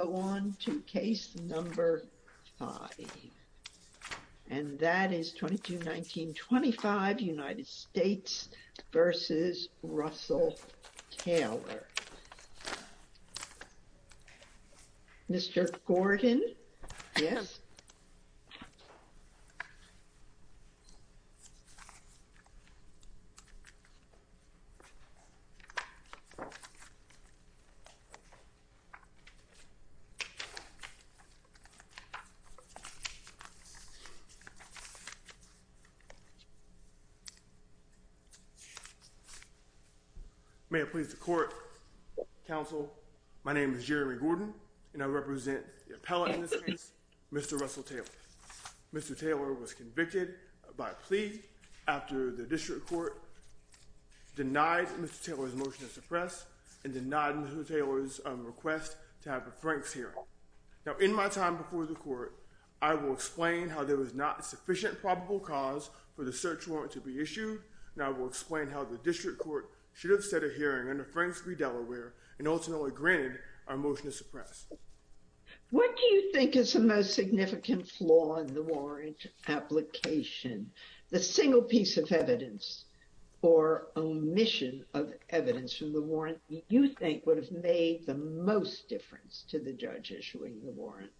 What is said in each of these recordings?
Go on to case number 5, and that is 22-19-25, United States v. Russell Taylor. Okay, damploy. can I have you read Mr. Mr. Yes. Thank you, counsel. My name is Jeremy Gordon, and I represent the appellate in this case, Mr. Russell Taylor. Mr. Taylor was convicted by plea after the district court denied Mr. Taylor's motion to suppress and denied Mr. Taylor's request to have a Franks hearing. Now, in my time before the court, I will explain how there was not a sufficient probable cause for the search warrant to be issued, and I will explain how the district court should have set a hearing under Franks v. Delaware and ultimately granted our motion to suppress. What do you think is the most significant flaw in the warrant application? The single piece of evidence or omission of evidence from the warrant you think would have made the most difference to the judge issuing the warrant?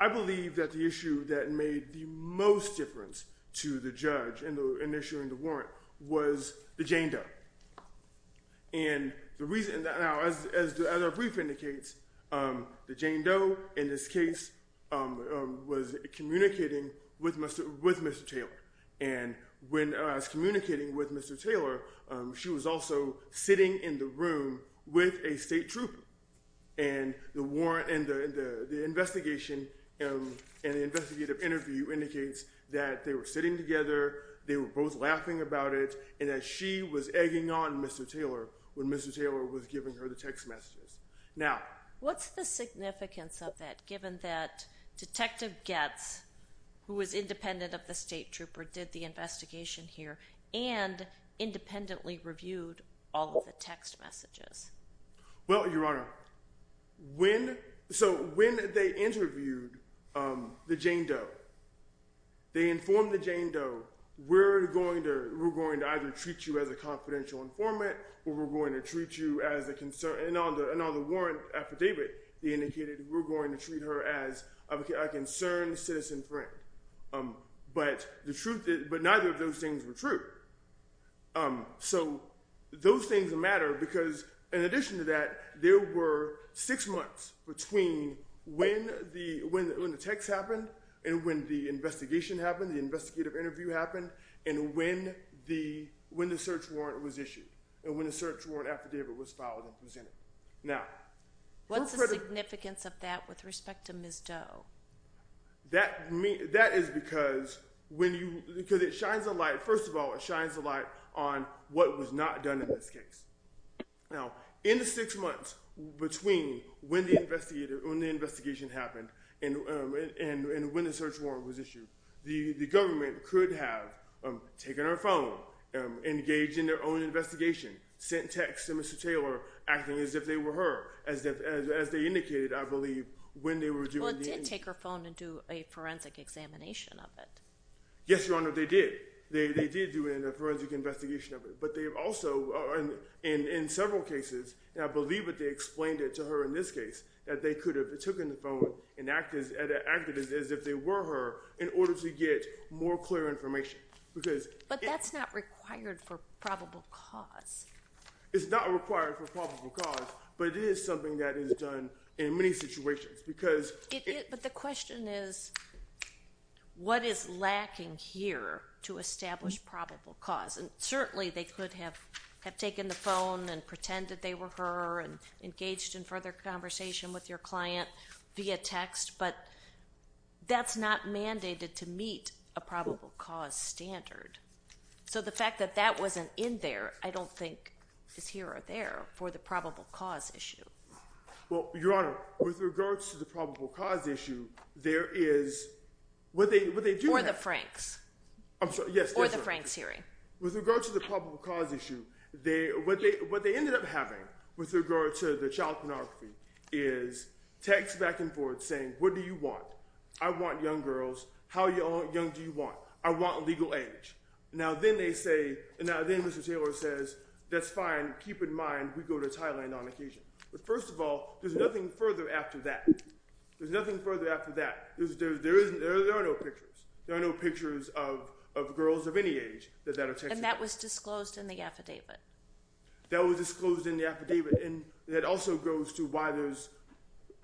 I believe that the issue that made the most difference to the judge in issuing the warrant was the Jane Doe. And the reason that now, as the other brief indicates, the Jane Doe in this case was communicating with Mr. With Mr. Taylor. And when I was communicating with Mr. Taylor, she was also sitting in the room with a state troop. And the warrant and the investigation and the investigative interview indicates that they were sitting together, they were both laughing about it, and that she was egging on Mr. Taylor when Mr. Taylor was giving her the text messages. Now, what's the significance of that, given that Detective Getz, who was independent of the state trooper, did the investigation here and independently reviewed all of the text messages? Well, Your Honor, when so when they interviewed the Jane Doe, they informed the Jane Doe, we're going to we're going to either treat you as a confidential informant or we're going to treat you as a concern. And on another warrant affidavit, they indicated we're going to treat her as a concerned citizen. But the truth is, but neither of those things were true. So those things matter. Because in addition to that, there were six months between when the when when the text happened and when the investigation happened, the investigative interview happened. And when the when the search warrant was issued and when the search warrant affidavit was filed and presented. Now, what's the significance of that with respect to Ms. Doe? That means that is because when you because it shines a light, first of all, it shines a light on what was not done in this case. Now, in the six months between when the investigator on the investigation happened and when the search warrant was issued, the government could have taken her phone, engage in their own investigation, sent text to Mr. Taylor, acting as if they were her as if as they indicated, I believe, when they were doing take her phone and do a forensic examination of it. Yes, Your Honor, they did. They did do in a forensic investigation of it. But they also are in in several cases. And I believe that they explained it to her in this case that they could have taken the phone and act as an activist as if they were her in order to get more clear information because. But that's not required for probable cause. It's not required for probable cause, but it is something that is done in many situations because. But the question is, what is lacking here to establish probable cause? And certainly they could have have taken the phone and pretend that they were her and engaged in further conversation with your client via text. But that's not mandated to meet a probable cause standard. So the fact that that wasn't in there, I don't think is here or there for the probable cause issue. Well, Your Honor, with regards to the probable cause issue, there is what they what they do or the Franks. I'm sorry. Yes. Or the Franks hearing with regard to the probable cause issue. They what they what they ended up having with regard to the child pornography is text back and forth saying, what do you want? I want young girls. How young do you want? I want legal age. Now, then they say and then Mr. Taylor says, that's fine. Keep in mind, we go to Thailand on occasion. But first of all, there's nothing further after that. There's nothing further after that. There is there are no pictures. There are no pictures of of girls of any age. And that was disclosed in the affidavit. That was disclosed in the affidavit. And it also goes to why there's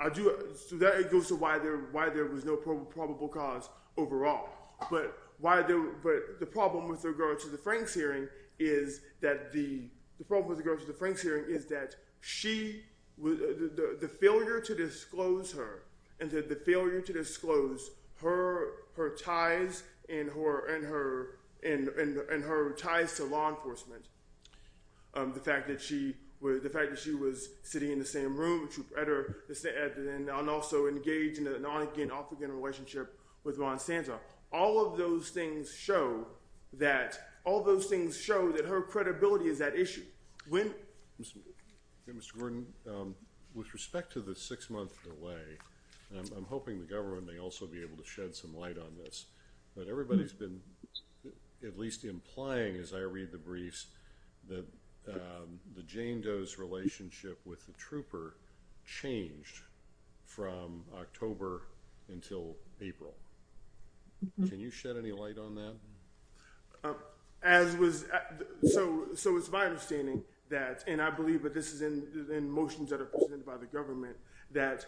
I do that. It goes to why there why there was no probable cause overall. But why? But the problem with regard to the Franks hearing is that the problem with the Franks hearing is that she was the failure to disclose her and the failure to disclose her, her ties and her and her and her ties to law enforcement. The fact that she was the fact that she was sitting in the same room at her and also engaged in an on again off again relationship with Ron Santa. All of those things show that all those things show that her credibility is that issue. When Mr. Gordon, with respect to the six month delay, I'm hoping the government may also be able to shed some light on this. But everybody's been at least implying, as I read the briefs, that the Jane Doe's relationship with the trooper changed from October until April. Can you shed any light on that? As was so. So it's my understanding that and I believe that this is in the motions that are presented by the government that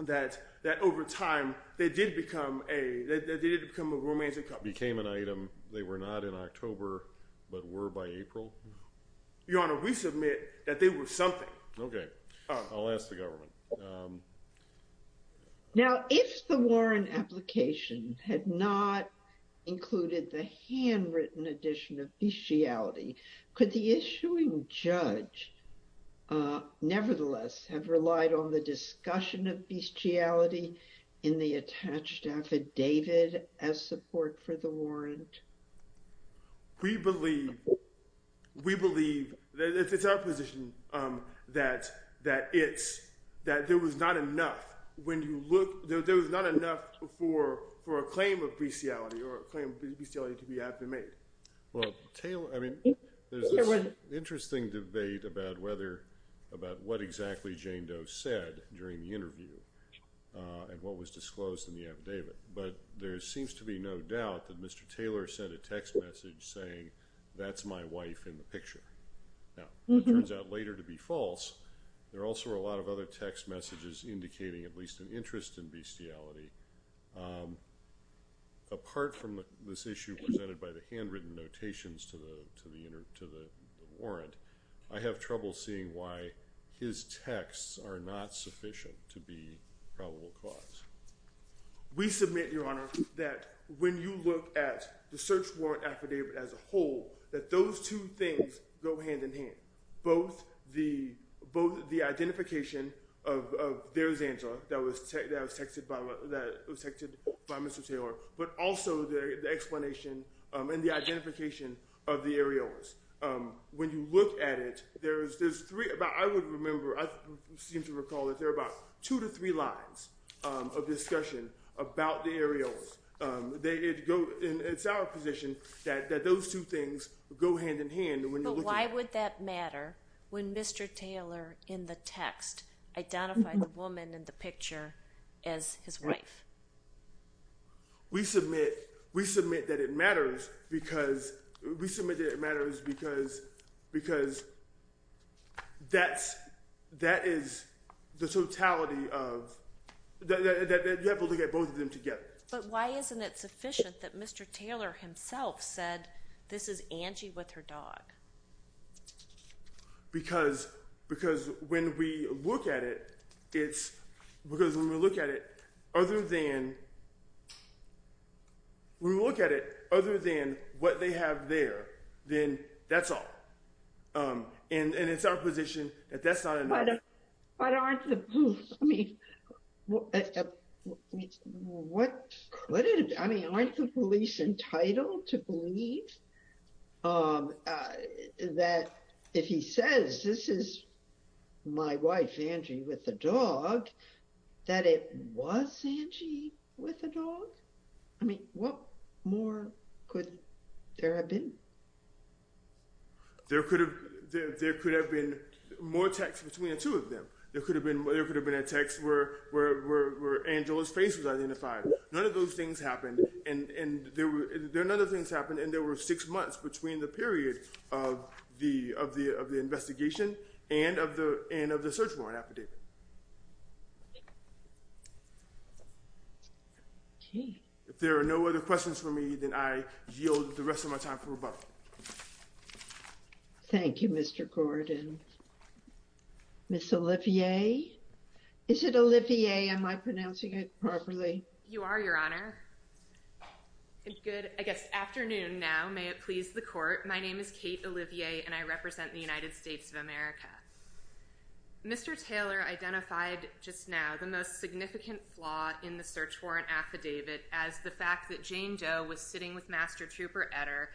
that that over time, they did become a they did become a romantic became an item. They were not in October, but were by April. Your Honor, we submit that they were something. Okay, I'll ask the government. Now, if the Warren application had not included the handwritten edition of the reality, could the issuing judge nevertheless have relied on the discussion of bestiality in the attached affidavit as support for the warrant? We believe we believe that it's our position that that it's that there was not enough when you look, there was not enough for for a claim of bestiality or claim bestiality to be made. Well, Taylor, I mean, interesting debate about whether about what exactly Jane Doe said during the interview, and what was disclosed in the affidavit. But there seems to be no doubt that Mr. Taylor sent a text message saying, that's my wife in the picture. Now, it turns out later to be false. There are also a lot of other text messages indicating at least an interest in bestiality. Apart from this issue presented by the handwritten notations to the to the inner to the warrant, I have trouble seeing why his texts are not sufficient to be probable cause. We submit, Your Honor, that when you look at the search warrant affidavit as a whole, that those two things go hand in hand. Both the both the identification of there's answer that was that was texted by that was texted by Mr. Taylor, but also the explanation and the identification of the aerials. When you look at it, there's there's three about I would remember I seem to recall that there are about two to three lines of discussion about the aerials. They go in it's our position that that those two things go hand in hand. Why would that matter when Mr. Taylor in the text identified the woman in the picture as his wife? We submit we submit that it matters because we submitted it matters because because that's that is the totality of that. Because because when we look at it, it's because when we look at it, other than. We look at it other than what they have there, then that's all. And it's our position that that's not. But aren't the police, I mean, what could it be? I mean, aren't the police entitled to believe that if he says this is my wife, Angie, with the dog, that it was Angie with a dog? I mean, what more could there have been? There could have there could have been more text between the two of them. There could have been there could have been a text where Angela's face was identified. None of those things happened. And there were other things happened. And there were six months between the period of the of the of the investigation and of the end of the search warrant affidavit. If there are no other questions for me, then I yield the rest of my time for about. Thank you, Mr. Gordon. Miss Olivier, is it Olivier? Am I pronouncing it properly? You are your honor. Good afternoon. Now, may it please the court. My name is Kate Olivier and I represent the United States of America. Mr. Taylor identified just now the most significant flaw in the search warrant affidavit as the fact that Jane Doe was sitting with Master Trooper Etter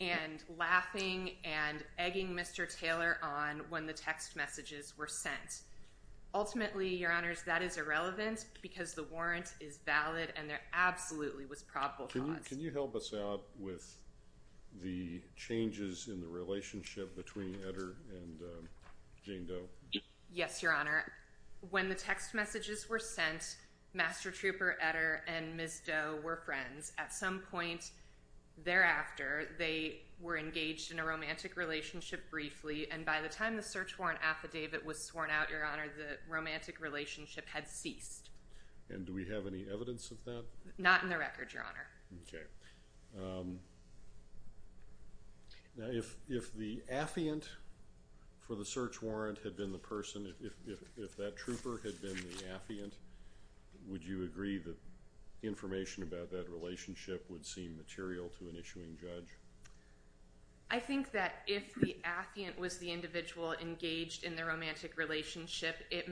and laughing and egging Mr. Taylor on when the text messages were sent. Ultimately, your honors, that is irrelevant because the warrant is valid and there absolutely was probable. Can you help us out with the changes in the relationship between Etter and Jane Doe? Yes, your honor. When the text messages were sent, Master Trooper Etter and Miss Doe were friends. At some point thereafter, they were engaged in a romantic relationship briefly. And by the time the search warrant affidavit was sworn out, your honor, the romantic relationship had ceased. And do we have any evidence of that? Not in the record, your honor. Okay. Now, if the affiant for the search warrant had been the person, if that trooper had been the affiant, would you agree that information about that relationship would seem material to an issuing judge? I think that if the affiant was the individual engaged in the romantic relationship, it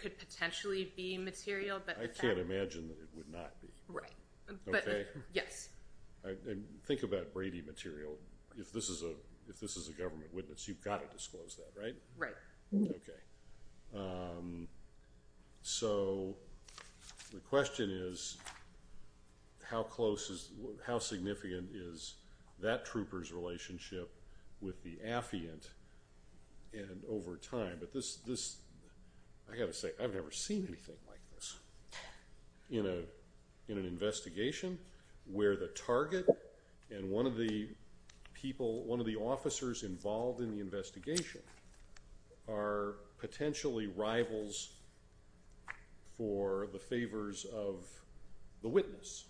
could potentially be material. I can't imagine that it would not be. Right. Okay? Yes. Think about Brady material. If this is a government witness, you've got to disclose that, right? Right. Okay. So, the question is, how significant is that trooper's relationship with the affiant over time? I've got to say, I've never seen anything like this in an investigation where the target and one of the officers involved in the investigation are potentially rivals for the favors of the witness.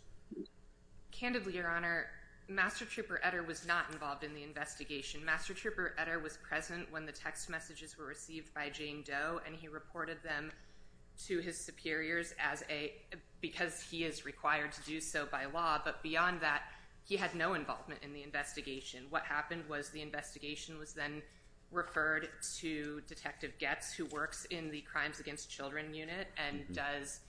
Candidly, your honor, Master Trooper Etter was not involved in the investigation. Master Trooper Etter was present when the text messages were received by Jane Doe, and he reported them to his superiors because he is required to do so by law. But beyond that, he had no involvement in the investigation. What happened was the investigation was then referred to Detective Goetz, who works in the Crimes Against Children Unit and does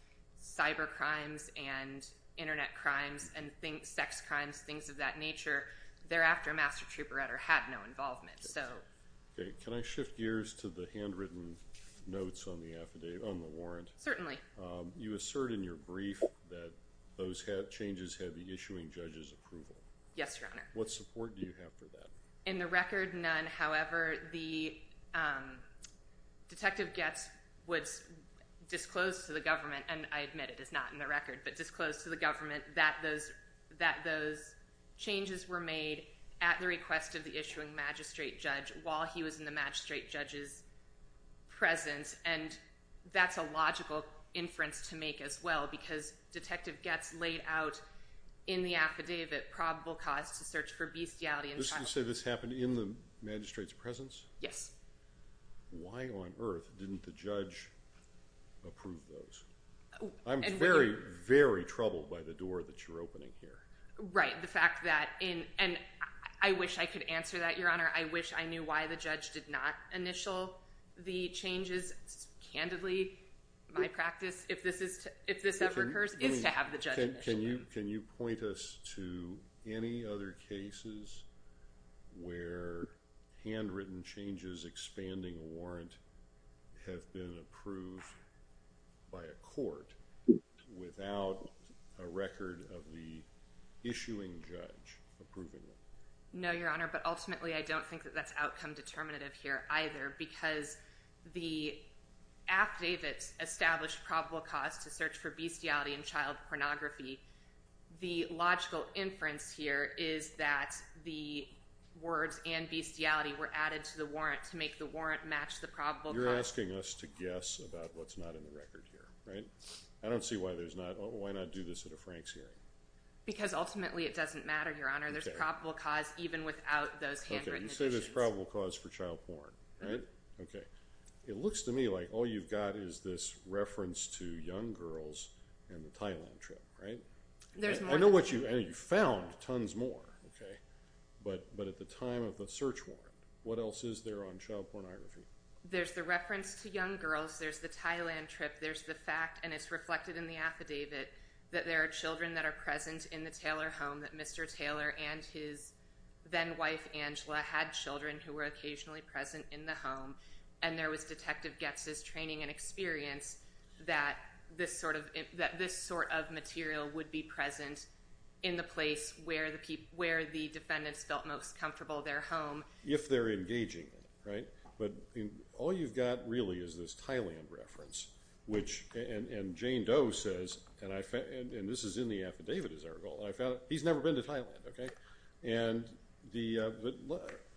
cyber crimes and internet crimes and sex crimes, things of that nature. Thereafter, Master Trooper Etter had no involvement. Okay. Can I shift gears to the handwritten notes on the warrant? Certainly. You assert in your brief that those changes had the issuing judge's approval. Yes, your honor. What support do you have for that? In the record, none. However, Detective Goetz disclosed to the government, and I admit it is not in the record, but disclosed to the government that those changes were made at the request of the issuing magistrate judge while he was in the magistrate judge's presence. That's a logical inference to make as well, because Detective Goetz laid out in the affidavit probable cause to search for bestiality in children. This is to say this happened in the magistrate's presence? Yes. Why on earth didn't the judge approve those? I'm very, very troubled by the door that you're opening here. I wish I could answer that, your honor. I wish I knew why the judge did not initial the changes. Candidly, my practice, if this ever occurs, is to have the judge initial them. Can you point us to any other cases where handwritten changes expanding a warrant have been approved by a court without a record of the issuing judge approving them? No, your honor, but ultimately I don't think that that's outcome determinative here either, because the affidavit established probable cause to search for bestiality in child pornography. The logical inference here is that the words and bestiality were added to the warrant to make the warrant match the probable cause. You're asking us to guess about what's not in the record here, right? I don't see why there's not. Why not do this at a Franks hearing? Because ultimately it doesn't matter, your honor. There's probable cause even without those handwritten additions. Okay, you say there's probable cause for child porn, right? Okay. It looks to me like all you've got is this reference to young girls and the Thailand trip, right? There's more than one. I know you found tons more, okay, but at the time of the search warrant, what else is there on child pornography? There's the reference to young girls. There's the Thailand trip. There's the fact, and it's reflected in the affidavit, that there are children that are present in the Taylor home, that Mr. Taylor and his then-wife Angela had children who were occasionally present in the home, and there was Detective Goetz's training and experience that this sort of material would be present in the place where the defendants felt most comfortable their home. If they're engaging, right? But all you've got really is this Thailand reference, and Jane Doe says, and this is in the affidavit, as I recall, he's never been to Thailand, okay? And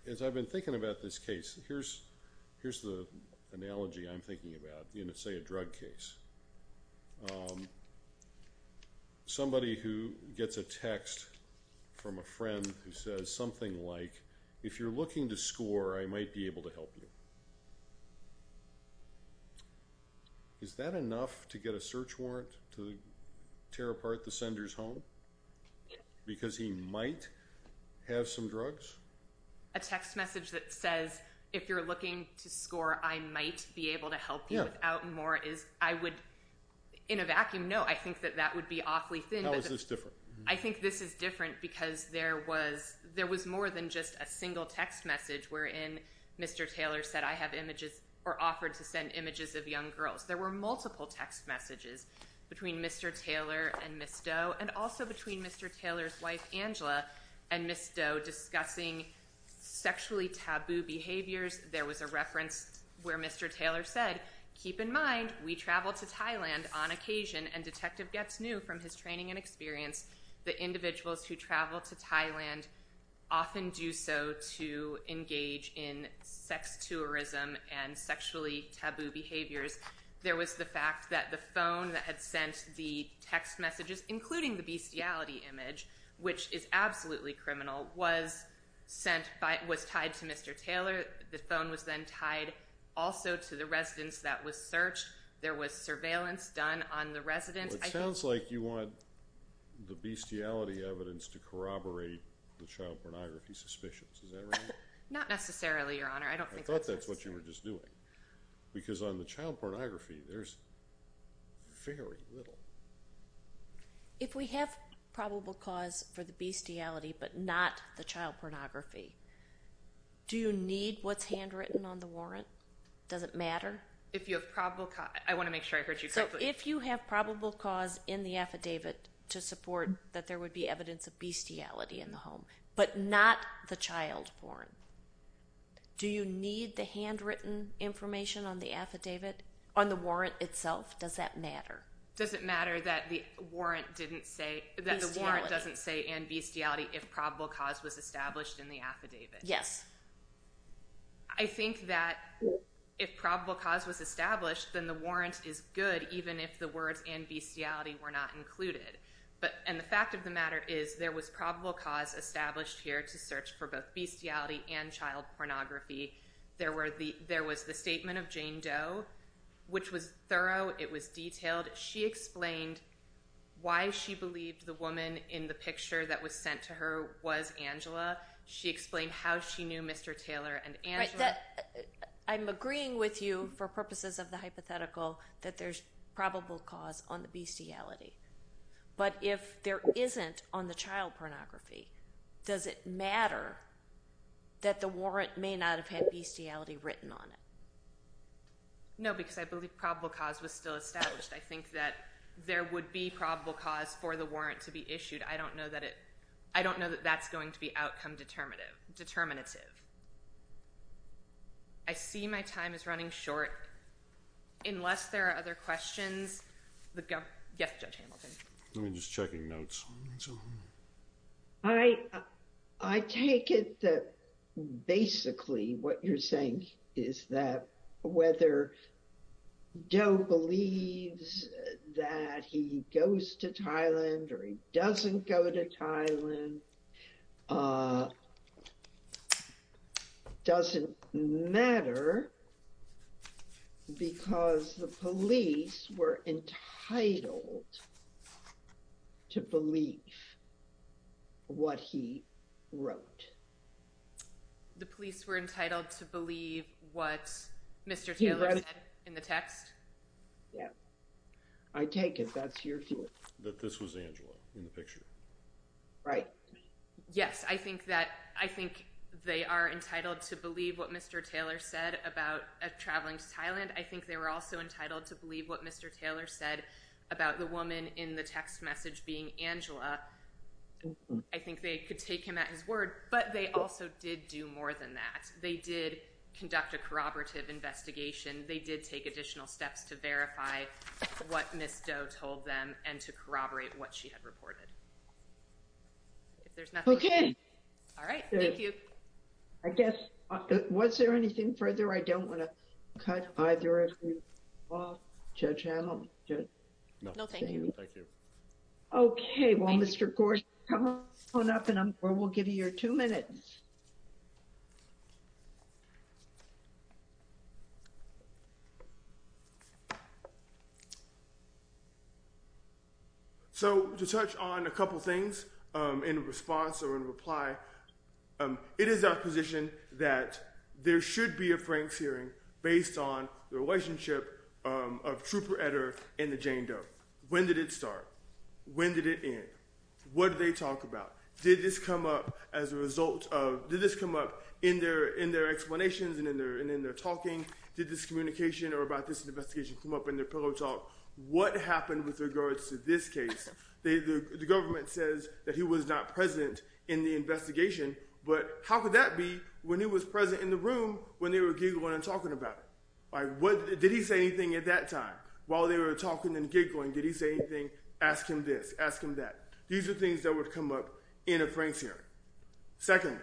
as I've been thinking about this case, here's the analogy I'm thinking about in, say, a drug case. Somebody who gets a text from a friend who says something like, if you're looking to score, I might be able to help you. Is that enough to get a search warrant to tear apart the sender's home? Because he might have some drugs? A text message that says, if you're looking to score, I might be able to help you without more is, I would, in a vacuum, no. I think that that would be awfully thin. How is this different? I think this is different because there was more than just a single text message wherein Mr. Taylor said, I have images, or offered to send images of young girls. There were multiple text messages between Mr. Taylor and Ms. Doe, and also between Mr. Taylor's wife, Angela, and Ms. Doe, discussing sexually taboo behaviors. There was a reference where Mr. Taylor said, keep in mind, we travel to Thailand on occasion, and Detective Getz knew from his training and experience that individuals who travel to Thailand often do so to engage in sex tourism and sexually taboo behaviors. There was the fact that the phone that had sent the text messages, including the bestiality image, which is absolutely criminal, was tied to Mr. Taylor. The phone was then tied also to the residence that was searched. There was surveillance done on the residence. It sounds like you want the bestiality evidence to corroborate the child pornography suspicions. Is that right? Not necessarily, Your Honor. I don't think that's necessary. I thought that's what you were just doing. Because on the child pornography, there's very little. If we have probable cause for the bestiality but not the child pornography, do you need what's handwritten on the warrant? Does it matter? If you have probable – I want to make sure I heard you correctly. If you have probable cause in the affidavit to support that there would be evidence of bestiality in the home but not the child porn, do you need the handwritten information on the affidavit, on the warrant itself? Does that matter? Does it matter that the warrant doesn't say in bestiality if probable cause was established in the affidavit? Yes. I think that if probable cause was established, then the warrant is good even if the words in bestiality were not included. And the fact of the matter is there was probable cause established here to search for both bestiality and child pornography. There was the statement of Jane Doe, which was thorough. It was detailed. She explained why she believed the woman in the picture that was sent to her was Angela. She explained how she knew Mr. Taylor and Angela. I'm agreeing with you for purposes of the hypothetical that there's probable cause on the bestiality. But if there isn't on the child pornography, does it matter that the warrant may not have had bestiality written on it? No, because I believe probable cause was still established. I think that there would be probable cause for the warrant to be issued. I don't know that that's going to be outcome determinative. I see my time is running short. Unless there are other questions. Yes, Judge Hamilton. I'm just checking notes. All right. I take it that basically what you're saying is that whether Joe believes that he goes to Thailand or he doesn't go to Thailand doesn't matter. Because the police were entitled to believe what he wrote. The police were entitled to believe what Mr. Taylor said in the text. Yeah. I take it that's your view. That this was Angela in the picture. Right. Yes, I think they are entitled to believe what Mr. Taylor said about traveling to Thailand. I think they were also entitled to believe what Mr. Taylor said about the woman in the text message being Angela. I think they could take him at his word, but they also did do more than that. They did conduct a corroborative investigation. They did take additional steps to verify what Ms. Doe told them and to corroborate what she had reported. Okay. All right. Thank you. I guess. Was there anything further? I don't want to cut either of you off, Judge Hamilton. No, thank you. Thank you. Okay. Well, Mr. Gorsuch, come on up and we'll give you your two minutes. Thank you, Judge. So, to touch on a couple things in response or in reply, it is our position that there should be a Frank's hearing based on the relationship of Trooper Etter and the Jane Doe. When did it start? When did it end? What did they talk about? Did this come up in their explanations and in their talking? Did this communication or about this investigation come up in their pillow talk? What happened with regards to this case? The government says that he was not present in the investigation, but how could that be when he was present in the room when they were giggling and talking about it? Did he say anything at that time while they were talking and giggling? Did he say anything? Ask him this. Ask him that. These are things that would come up in a Frank's hearing. Second,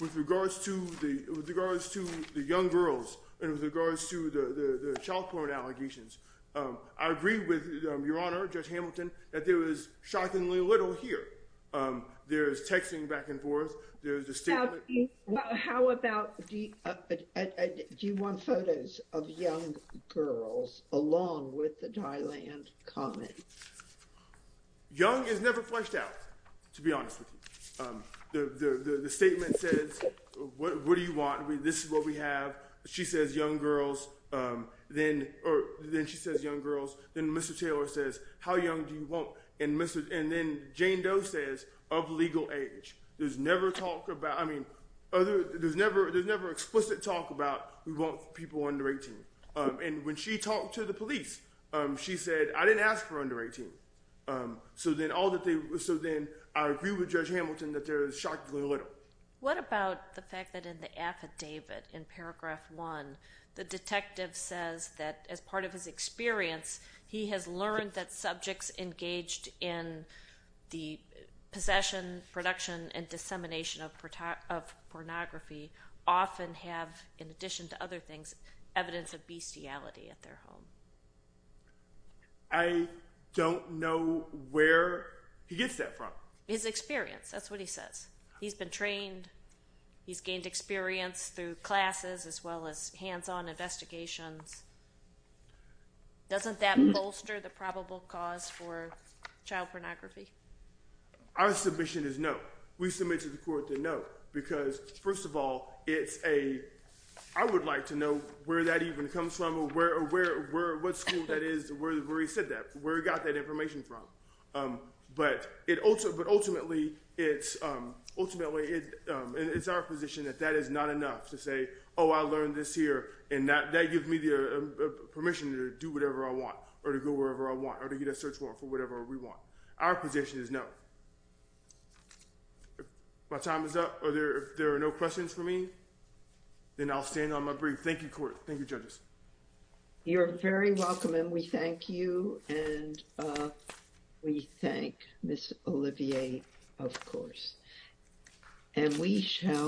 with regards to the young girls and with regards to the child porn allegations, I agree with Your Honor, Judge Hamilton, that there is shockingly little here. There is texting back and forth. There is a statement. How about do you want photos of young girls along with the Thailand comment? Young is never fleshed out, to be honest with you. The statement says, what do you want? This is what we have. She says young girls. Then she says young girls. Then Mr. Taylor says, how young do you want? And then Jane Doe says, of legal age. There's never explicit talk about we want people under 18. And when she talked to the police, she said, I didn't ask for under 18. So then I agree with Judge Hamilton that there is shockingly little. What about the fact that in the affidavit in paragraph one, the detective says that as part of his experience, he has learned that subjects engaged in the possession, production, and dissemination of pornography often have, in addition to other things, evidence of bestiality at their home. I don't know where he gets that from. His experience. That's what he says. He's been trained. He's gained experience through classes as well as hands-on investigations. Doesn't that bolster the probable cause for child pornography? Our submission is no. We submit to the court that no, because first of all, it's a, I would like to know where that even comes from, or what school that is, where he said that, where he got that information from. But ultimately, it's our position that that is not enough to say, oh, I learned this here, and that gives me the permission to do whatever I want or to go wherever I want or to get a search warrant for whatever we want. Our position is no. If my time is up or if there are no questions for me, then I'll stand on my brief. Thank you, court. Thank you, judges. You're very welcome, and we thank you, and we thank Ms. Olivier, of course.